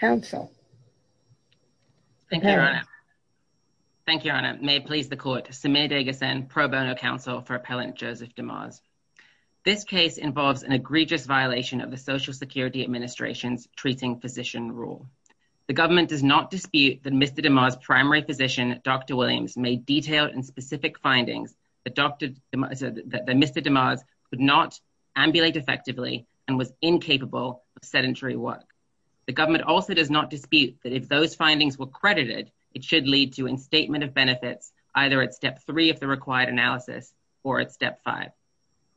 Counsel. Thank you, Your Honor. Thank you, Your Honor. May it please the Court, Samir Dehghassan, Pro Bono Counsel for Appellant Joseph DeMars. This case involves an egregious violation of the Social Security Administration's Treating Physician Rule. The government does not dispute that Mr. DeMars' primary physician, Dr. Williams, made detailed and was incapable of sedentary work. The government also does not dispute that if those findings were credited, it should lead to instatement of benefits, either at step three of the required analysis or at step five.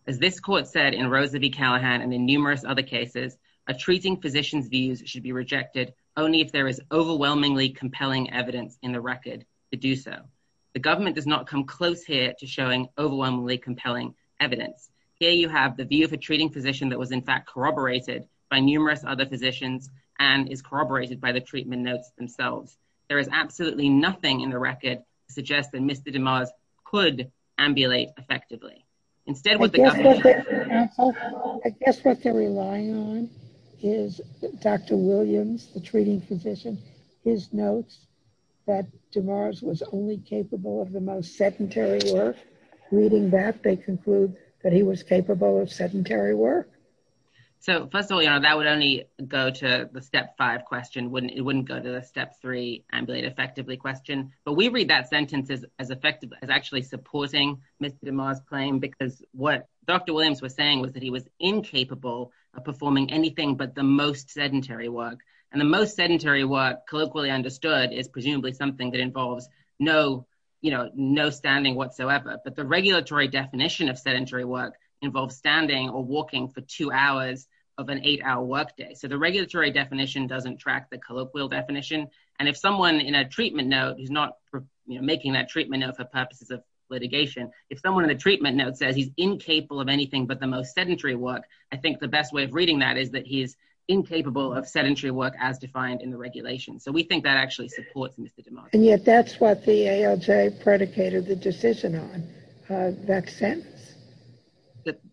As this Court said in Rose v. Callaghan and in numerous other cases, a treating physician's views should be rejected only if there is overwhelmingly compelling evidence in the record to do so. The government does not come close here to showing overwhelmingly compelling evidence. Here you have the view of a treating physician that was, in fact, corroborated by numerous other physicians and is corroborated by the treatment notes themselves. There is absolutely nothing in the record to suggest that Mr. DeMars could ambulate effectively. Instead, what the government— I guess what they're relying on is Dr. Williams, the treating physician. His notes that DeMars was only capable of the most sedentary work, reading that they conclude that he was capable of sedentary work. First of all, that would only go to the step five question. It wouldn't go to the step three ambulate effectively question. We read that sentence as actually supporting Mr. DeMars' claim because what Dr. Williams was saying was that he was incapable of performing anything but the most sedentary work. The most sedentary work, colloquially understood, is presumably something that involves no standing whatsoever. But the regulatory definition of sedentary work involves standing or walking for two hours of an eight-hour workday. The regulatory definition doesn't track the colloquial definition. If someone in a treatment note is not making that treatment note for purposes of litigation, if someone in the treatment note says he's incapable of anything but the most sedentary work, I think the best way of reading that is that he is incapable of sedentary work as defined in the regulation. We think that actually supports Mr. DeMars. And yet that's what the ALJ predicated the decision on, that sentence.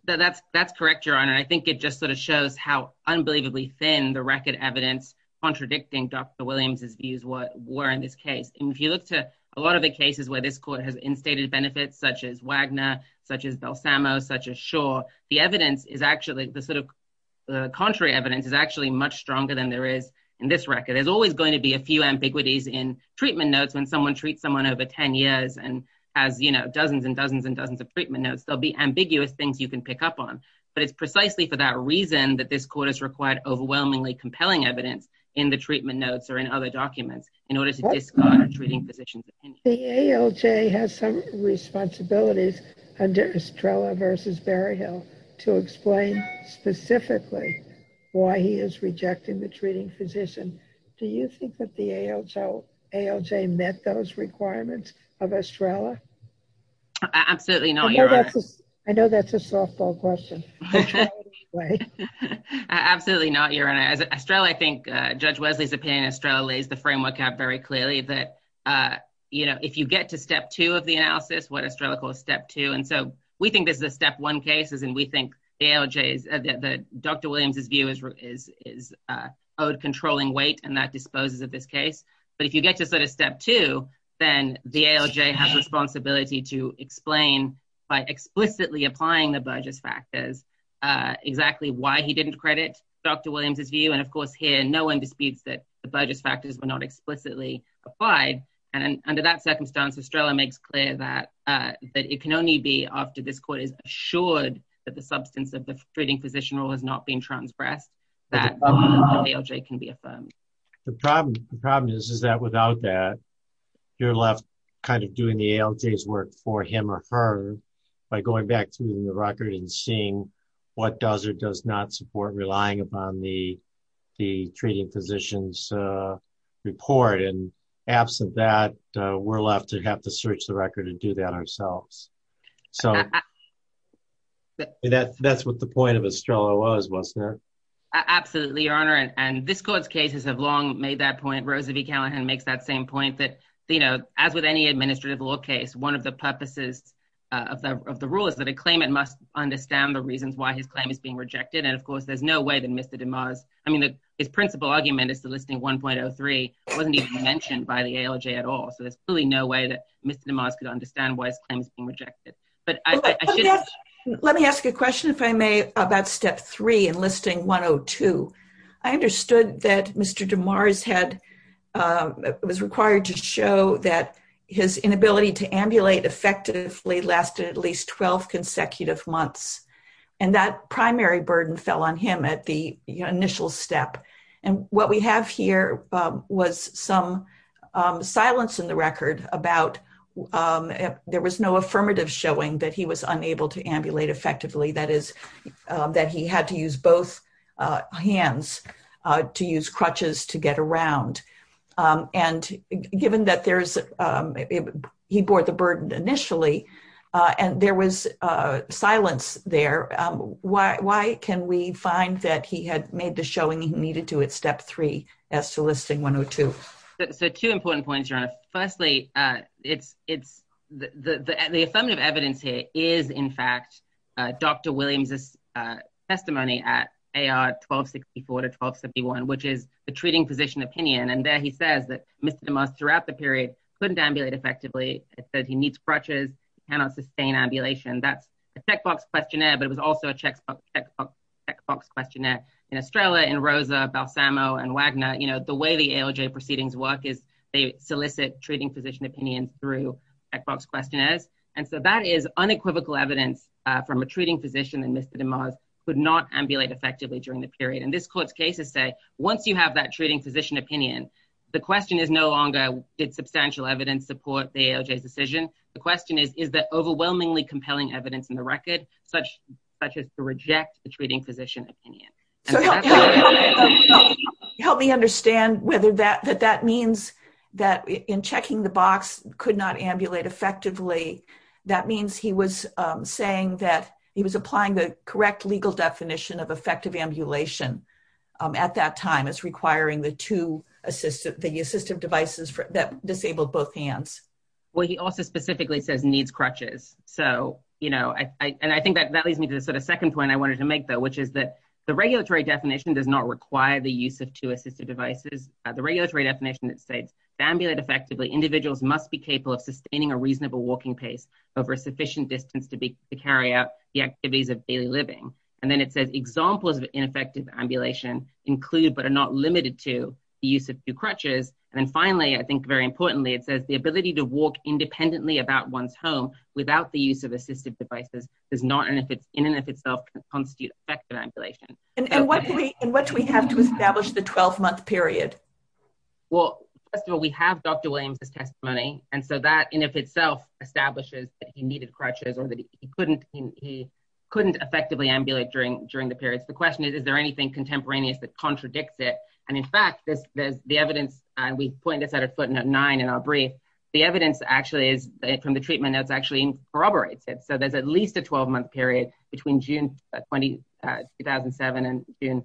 That's correct, Your Honor. I think it just sort of shows how unbelievably thin the record evidence contradicting Dr. Williams' views were in this case. And if you look to a lot of the cases where this court has instated benefits such as Wagner, such as Belsamo, such as Shaw, the evidence is actually, the sort of contrary evidence is actually much stronger than there is in this record. There's always going to be a few ambiguities in treatment notes when someone treats someone over 10 years and has dozens and dozens and dozens of treatment notes. There'll be ambiguous things you can pick up on. But it's precisely for that reason that this court has required overwhelmingly compelling evidence in the treatment notes or in other documents in order to discard a treating physician. The ALJ has some responsibilities under Estrella v. Berryhill to explain specifically why he is rejecting the treating physician. Do you think that the ALJ met those requirements of Estrella? Absolutely not, Your Honor. I know that's a softball question. Absolutely not, Your Honor. Estrella, I think, Judge Wesley's opinion, Estrella lays the framework out very clearly that if you get to step two of the analysis, what Estrella calls step two. And so we think this is a step one case, and we think Dr. Williams' view is owed controlling weight, and that disposes of this case. But if you get to sort of step two, then the ALJ has responsibility to explain, by explicitly applying the Burgess factors, exactly why he didn't credit Dr. Williams' view. And of course, here, no one disputes that the Burgess factors were not explicitly applied. And under that circumstance, Estrella makes clear that it can only be after this court is assured that the substance of the treating physician rule has not been transgressed, that the ALJ can be affirmed. The problem is that without that, you're left kind of doing the ALJ's work for him or her by going back through the record and seeing what does or does not support relying upon the treating physician's report. And absent that, we're left to have to search the record and do that ourselves. So that's what the point of Estrella was, wasn't it? Absolutely, Your Honor. And this court's cases have long made that point. Rose V. Callahan makes that same point, that as with any administrative law case, one of the purposes of the rule is that a claimant must understand the reasons why his claim is being rejected. And of course, there's no way that Mr. DeMars, I mean, his principal argument is the listing 1.03 wasn't even mentioned by the ALJ at all. So there's really no way that Mr. DeMars could understand why his claim is being rejected. Let me ask a question, if I may, about step three in listing 102. I understood that Mr. DeMars was required to show that his inability to ambulate effectively lasted at least 12 consecutive months. And that primary burden fell on him at the initial step. And what we have here was some silence in the record about there was no affirmative showing that he was unable to ambulate effectively. That is that he had to use both hands to use crutches to get around. And given that he bore the burden initially and there was silence there, why can we find that he had made the showing he needed to at step three as to listing 102? So two important points, Your Honor. Firstly, the affirmative evidence here is, in fact, Dr. DeMars' case from 1264 to 1271, which is the treating physician opinion. And there he says that Mr. DeMars throughout the period couldn't ambulate effectively. It said he needs crutches, cannot sustain ambulation. That's a checkbox questionnaire, but it was also a checkbox questionnaire in Estrella, in Rosa, Balsamo, and Wagner. You know, the way the ALJ proceedings work is they solicit treating physician opinions through checkbox questionnaires. And so that is unequivocal evidence from a treating physician that Mr. DeMars could not And this court's cases say, once you have that treating physician opinion, the question is no longer did substantial evidence support the ALJ's decision? The question is, is that overwhelmingly compelling evidence in the record such as to reject the treating physician opinion? So help me understand whether that means that in checking the box could not ambulate effectively, that means he was saying that he was applying the correct legal definition of effective ambulation at that time as requiring the two assistive devices that disabled both hands. Well, he also specifically says needs crutches. So, you know, and I think that leads me to the sort of second point I wanted to make, though, which is that the regulatory definition does not require the use of two assistive devices. The regulatory definition that states to ambulate effectively, individuals must be capable of sustaining a reasonable walking pace over a sufficient distance to carry out the activities of daily living. And then it says examples of ineffective ambulation include but are not limited to the use of two crutches. And then finally, I think very importantly, it says the ability to walk independently about one's home without the use of assistive devices does not in and of itself constitute effective ambulation. And what do we have to establish the 12-month period? Well, first of all, we have Dr. Williams' testimony. And so that in and of itself establishes that he needed crutches or that he couldn't effectively ambulate during the periods. The question is, is there anything contemporaneous that contradicts it? And in fact, there's the evidence, and we point this out at footnote nine in our brief, the evidence actually is from the treatment that's actually corroborates it. So there's at least a 12-month period between June 2007 and June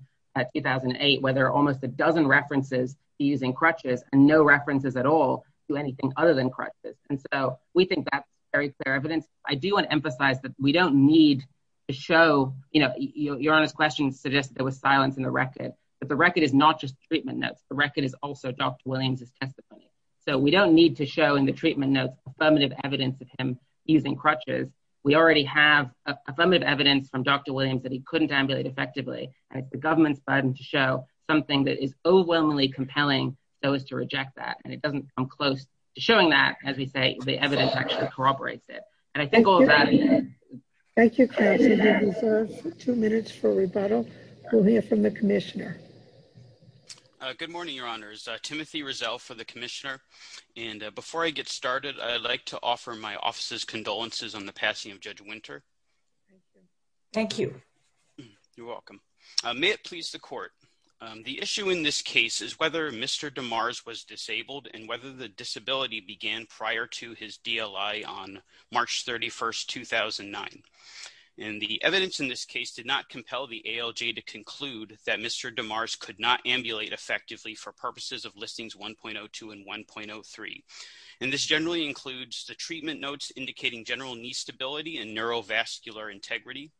2008, where there are almost a dozen references to using crutches and no references at all to anything other than crutches. And so we think that's very clear evidence. I do want to emphasize that we don't need to show... Your Honor's question suggested there was silence in the record. But the record is not just treatment notes. The record is also Dr. Williams' testimony. So we don't need to show in the treatment notes affirmative evidence of him using crutches. We already have affirmative evidence from Dr. Williams that he couldn't ambulate effectively. And it's the government's burden to show something that is overwhelmingly compelling those to reject that. And it doesn't come close to showing that, as we say, the evidence actually corroborates it. And I think all of that... Thank you, counsel. We'll reserve two minutes for rebuttal. We'll hear from the commissioner. Good morning, Your Honors. Timothy Rizzo for the commissioner. And before I get started, I'd like to offer my office's condolences on the passing of Judge Winter. Thank you. You're welcome. May it please the court. The issue in this case is whether Mr. DeMars was disabled and whether the disability began prior to his DLI on March 31st, 2009. And the evidence in this case did not compel the ALJ to conclude that Mr. DeMars could not ambulate effectively for purposes of listings 1.02 and 1.03. And this generally includes the treatment notes indicating general knee stability and neurovascular integrity,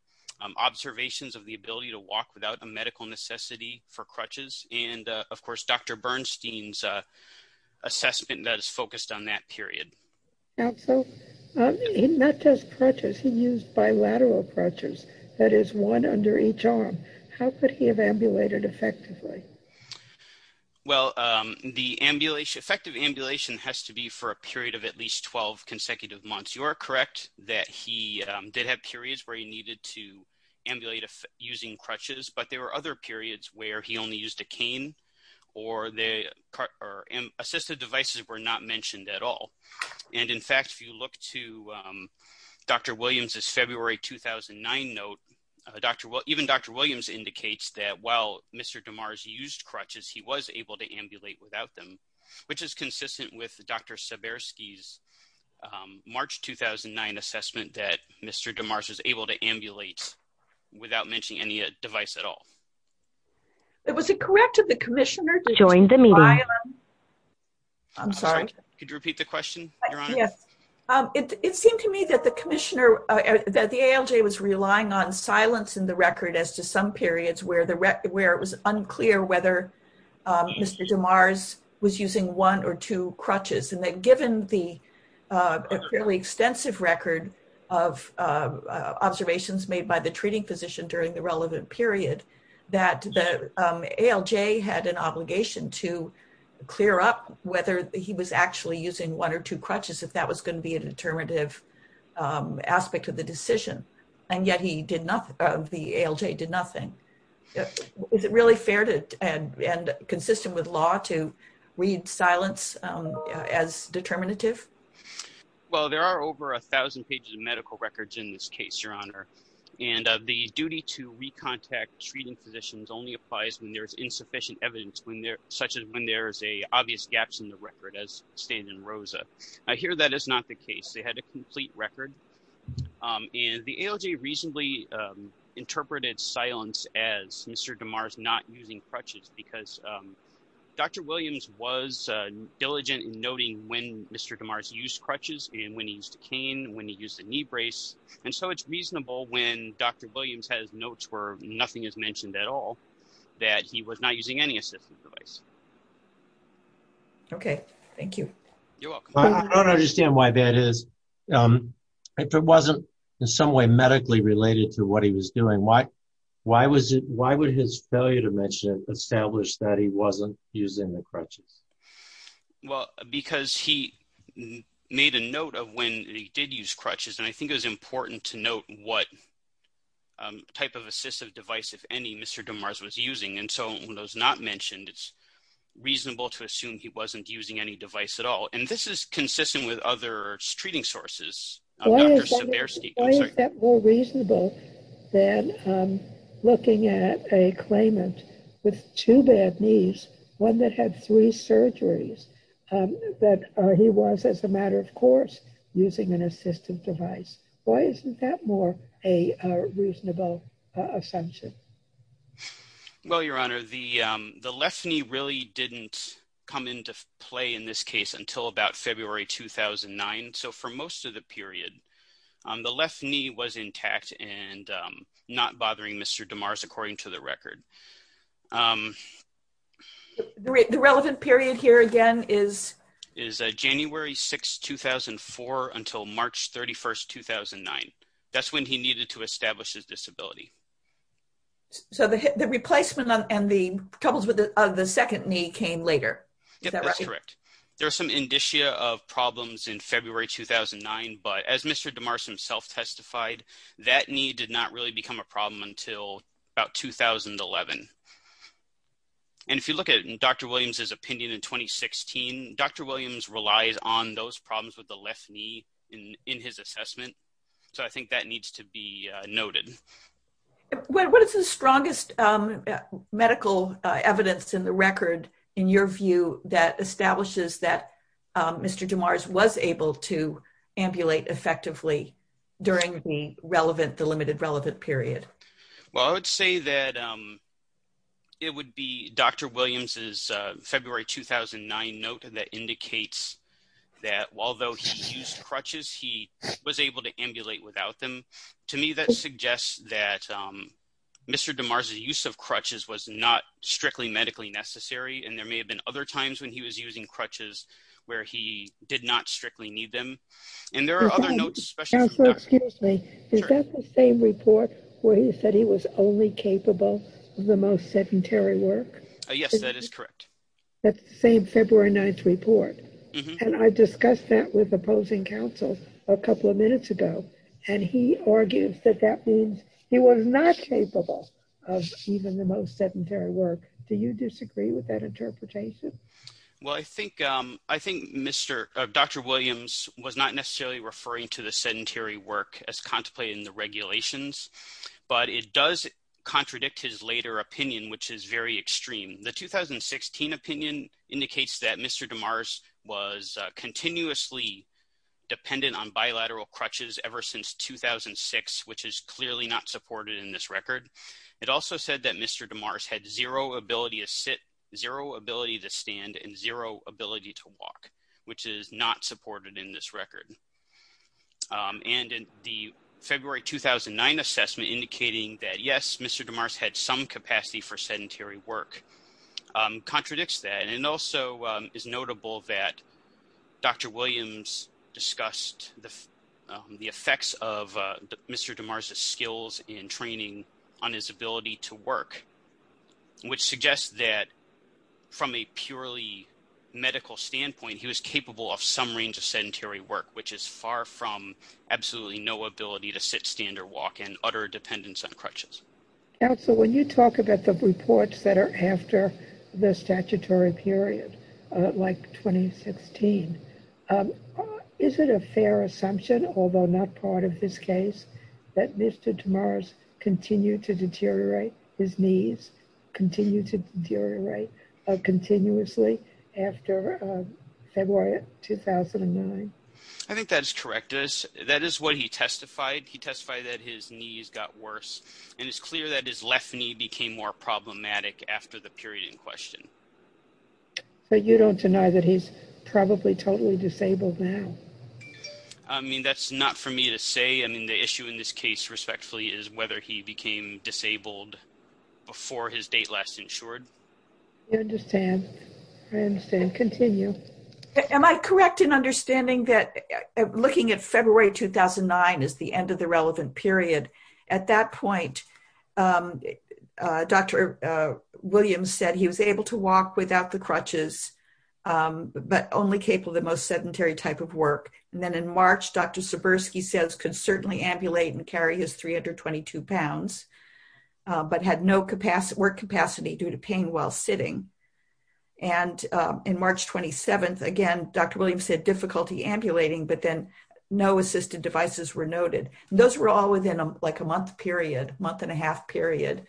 observations of the ability to walk without a medical necessity for crutches, and of course, Dr. Bernstein's assessment that is focused on that period. Counsel, he not just crutches, he used bilateral crutches. That is one under each arm. How could he have ambulated effectively? Well, the ambulation... Effective ambulation has to be for a period of at least 12 consecutive months. You are correct that he did have periods where he needed to ambulate using crutches, but there were other periods where he only used a cane or the... Assisted devices were not mentioned at all. And in fact, if you look to Dr. Williams' February 2009 note, even Dr. Williams indicates that while Mr. DeMars used crutches, he was able to ambulate without them, which is consistent with Dr. Sebersky's March 2009 assessment that Mr. DeMars was able to ambulate without mentioning any device at all. Was it correct that the commissioner... Joined the meeting. I'm sorry. Could you repeat the question, Your Honor? Yes. It seemed to me that the commissioner, that the ALJ was relying on silence in the record as to some periods where it was unclear whether Mr. DeMars was using one or two crutches, and that given the fairly extensive record of observations made by the treating physician during the relevant period, that the ALJ had an obligation to clear up whether he was actually using one or two crutches, if that was going to be a determinative aspect of the decision. And yet he did not... The ALJ did nothing. Is it really fair and consistent with law to read silence as determinative? Well, there are over a thousand pages of medical records in this case, Your Honor. And the duty to recontact treating physicians only applies when there's insufficient evidence, such as when there's obvious gaps in the record, as stated in Rosa. I hear that is not the case. They had a complete record. And the ALJ reasonably interpreted silence as Mr. DeMars not using crutches because Dr. Williams was diligent in noting when Mr. DeMars used crutches and when he used a cane, when he used a knee brace. And so it's reasonable when Dr. Williams has notes where nothing is mentioned at all, that he was not using any assistive device. Okay. Thank you. You're welcome. I don't understand why that is. If it wasn't in some way medically related to what he was doing, why would his failure to mention it establish that he wasn't using the crutches? Well, because he made a note of when he did use crutches. And I think it was important to note what type of assistive device, if any, Mr. DeMars was using. And so when it was not mentioned, it's reasonable to assume he wasn't using any device at all. And this is consistent with other treating sources. Why is that more reasonable than looking at a claimant with two bad knees, one that had three surgeries, that he was, as a matter of course, using an assistive device? Why isn't that more a reasonable assumption? Well, Your Honor, the left knee really didn't come into play in this case until about February 2009. So for most of the period, the left knee was intact and not bothering Mr. DeMars, according to the record. The relevant period here, again, is? Is January 6, 2004 until March 31, 2009. That's when he needed to establish his disability. So the replacement and the troubles with the second knee came later? Yeah, that's correct. There are some indicia of problems in February 2009. But as Mr. DeMars himself testified, that knee did not really become a problem until about 2011. And if you look at Dr. Williams's opinion in 2016, Dr. Williams relies on those problems with the left knee in his assessment. So I think that needs to be noted. What is the strongest medical evidence in the record, in your view, that establishes that Mr. DeMars was able to ambulate effectively during the limited relevant period? Well, I would say that it would be Dr. Williams's February 2009 note that indicates that although he used crutches, he was able to ambulate without them. To me, that suggests that Mr. DeMars' use of crutches was not strictly medically necessary. And there may have been other times when he was using crutches where he did not strictly need them. And there are other notes, especially from Dr. Williams. Is that the same report where he said he was only capable of the most sedentary work? Yes, that is correct. That's the same February 9th report. And I discussed that with opposing counsel a couple of minutes ago. And he argues that that means he was not capable of even the most sedentary work. Do you disagree with that interpretation? Well, I think Dr. Williams was not necessarily referring to the sedentary work as contemplated in the regulations. But it does contradict his later opinion, which is very extreme. The 2016 opinion indicates that Mr. DeMars was continuously dependent on bilateral crutches ever since 2006, which is clearly not supported in this record. It also said that Mr. DeMars had zero ability to sit, zero ability to stand, and zero ability to walk, which is not supported in this record. And the February 2009 assessment indicating that, yes, Mr. DeMars had some capacity for sedentary work contradicts that. And it also is notable that Dr. Williams discussed the effects of Mr. DeMars' skills in training on his ability to work, which suggests that from a purely medical standpoint, he was capable of some range of sedentary work, which is far from absolutely no ability to sit, stand, or walk and utter dependence on crutches. Counsel, when you talk about the reports that are after the statutory period, like 2016, is it a fair assumption, although not part of this case, that Mr. DeMars continued to deteriorate his knees, continued to deteriorate continuously after February 2009? I think that is correct. That is what he testified. He testified that his knees got worse. And it's clear that his left knee became more problematic after the period in question. So you don't deny that he's probably totally disabled now? I mean, that's not for me to say. I mean, the issue in this case, respectfully, is whether he became disabled before his date last insured. I understand. I understand. Continue. Am I correct in understanding that looking at February 2009 as the end of the relevant walk without the crutches, but only capable of the most sedentary type of work, and then in March, Dr. Sebersky says could certainly ambulate and carry his 322 pounds, but had no capacity, work capacity due to pain while sitting. And in March 27th, again, Dr. Williams said difficulty ambulating, but then no assistive devices were noted. Those were all within like a month period, month and a half period,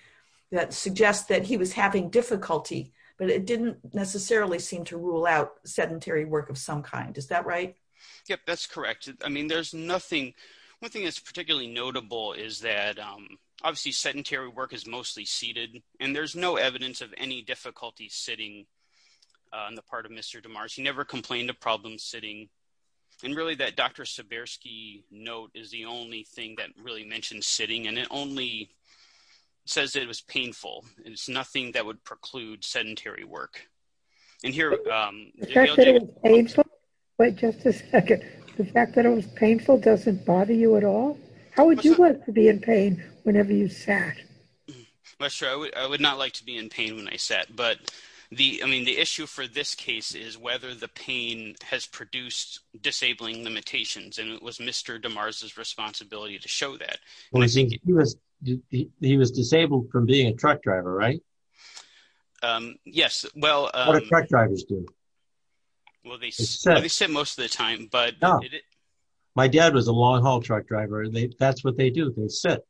that suggests that he was having difficulty, but it didn't necessarily seem to rule out sedentary work of some kind. Is that right? Yep, that's correct. I mean, there's nothing. One thing that's particularly notable is that obviously sedentary work is mostly seated, and there's no evidence of any difficulty sitting on the part of Mr. DeMars. He never complained of problems sitting. And really that Dr. Sebersky note is the only thing that really mentioned sitting, and it only says it was painful. It's nothing that would preclude sedentary work. And here- The fact that it was painful? Wait just a second. The fact that it was painful doesn't bother you at all? How would you like to be in pain whenever you sat? I'm not sure. I would not like to be in pain when I sat. But the, I mean, the issue for this case is whether the pain has produced disabling limitations, and it was Mr. DeMars' responsibility to show that. I think he was disabled from being a truck driver, right? Yes, well- What do truck drivers do? Well, they sit most of the time, but- No, my dad was a long haul truck driver. That's what they do, they sit.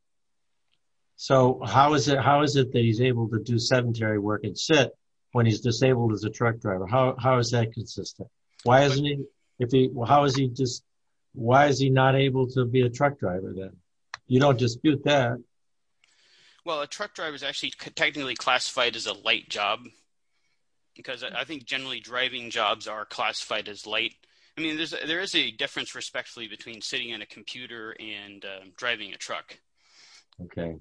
So how is it that he's able to do sedentary work and sit when he's disabled as a truck driver? How is that consistent? Why isn't he, if he, how is he just, why is he not able to be a truck driver then? You don't dispute that. Well, a truck driver is actually technically classified as a light job, because I think generally driving jobs are classified as light. I mean, there is a difference, respectfully, between sitting on a computer and driving a truck. Okay.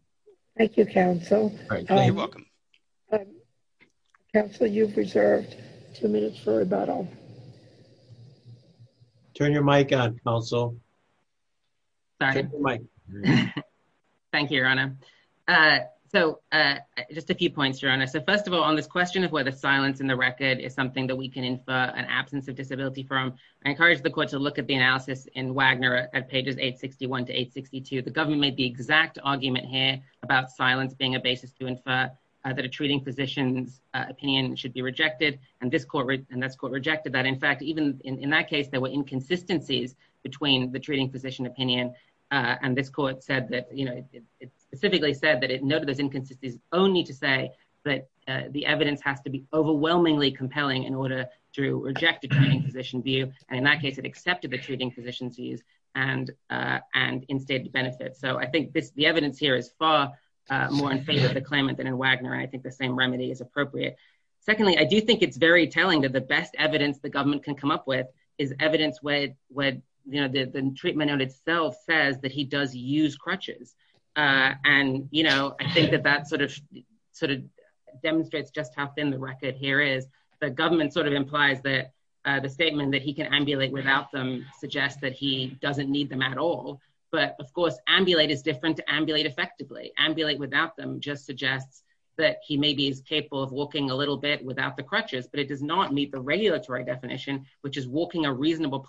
Thank you, counsel. You're welcome. Counsel, you've reserved two minutes for rebuttal. Turn your mic on, counsel. Sorry. Turn your mic. Thank you, Your Honor. So just a few points, Your Honor. So first of all, on this question of whether silence in the record is something that we can infer an absence of disability from, I encourage the court to look at the analysis in Wagner at pages 861 to 862. The government made the exact argument here about silence being a basis to infer that a treating physician's opinion should be rejected, and this court, and this court rejected that. In fact, even in that case, there were inconsistencies between the treating physician opinion, and this court said that, you know, it specifically said that it noted those inconsistencies only to say that the evidence has to be overwhelmingly compelling in order to reject a treating physician view, and in that case, it accepted the treating physician's views and instated benefits. So I think the evidence here is far more in favor of the claimant than in Wagner, and I think the same remedy is appropriate. Secondly, I do think it's very telling that the best evidence the government can come up with is evidence where, you know, the treatment note itself says that he does use crutches, and, you know, I think that that sort of demonstrates just how thin the record here is. The government sort of implies that the statement that he can ambulate without them suggests that he doesn't need them at all, but, of course, ambulate is different to ambulate effectively. Ambulate without them just suggests that he maybe is capable of walking a little bit without the crutches, but it does not meet the regulatory definition, which is walking a reasonable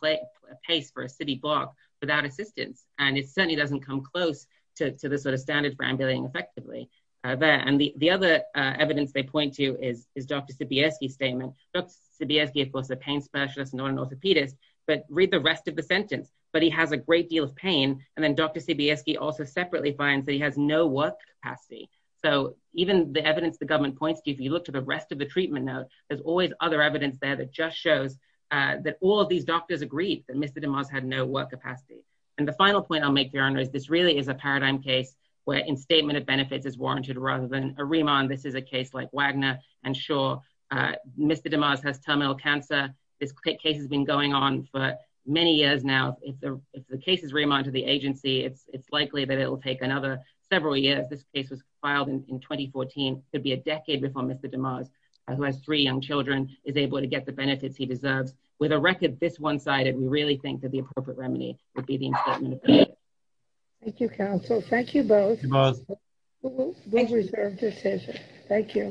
pace for a city block without assistance, and it certainly doesn't come close to the sort of standards for ambulating effectively there, and the other evidence they point to is Dr. Sibierski's statement. Dr. Sibierski, of course, is a pain specialist, not an orthopedist, but read the rest of the sentence, but he has a great deal of pain, and then Dr. Sibierski also separately finds that he has no work capacity. So even the evidence the government points to, if you look to the rest of the treatment note, there's always other evidence there that just shows that all of these doctors agreed that Mr. DeMars had no work capacity, and the final point I'll make, Your Honor, is this really is a paradigm case where instatement of benefits is warranted rather than a remand. This is a case like Wagner, and sure, Mr. DeMars has terminal cancer. This case has been going on for many years now. If the case is remanded to the agency, it's likely that it will take another several years. This case was filed in 2014, could be a decade before Mr. DeMars, who has three young children, is able to get the benefits he deserves. With a record this one-sided, we really think that the appropriate remedy would be the instatement of benefits. Thank you, counsel. Thank you both. Thank you, Ms. DeMars. We'll reserve this hearing. Thank you.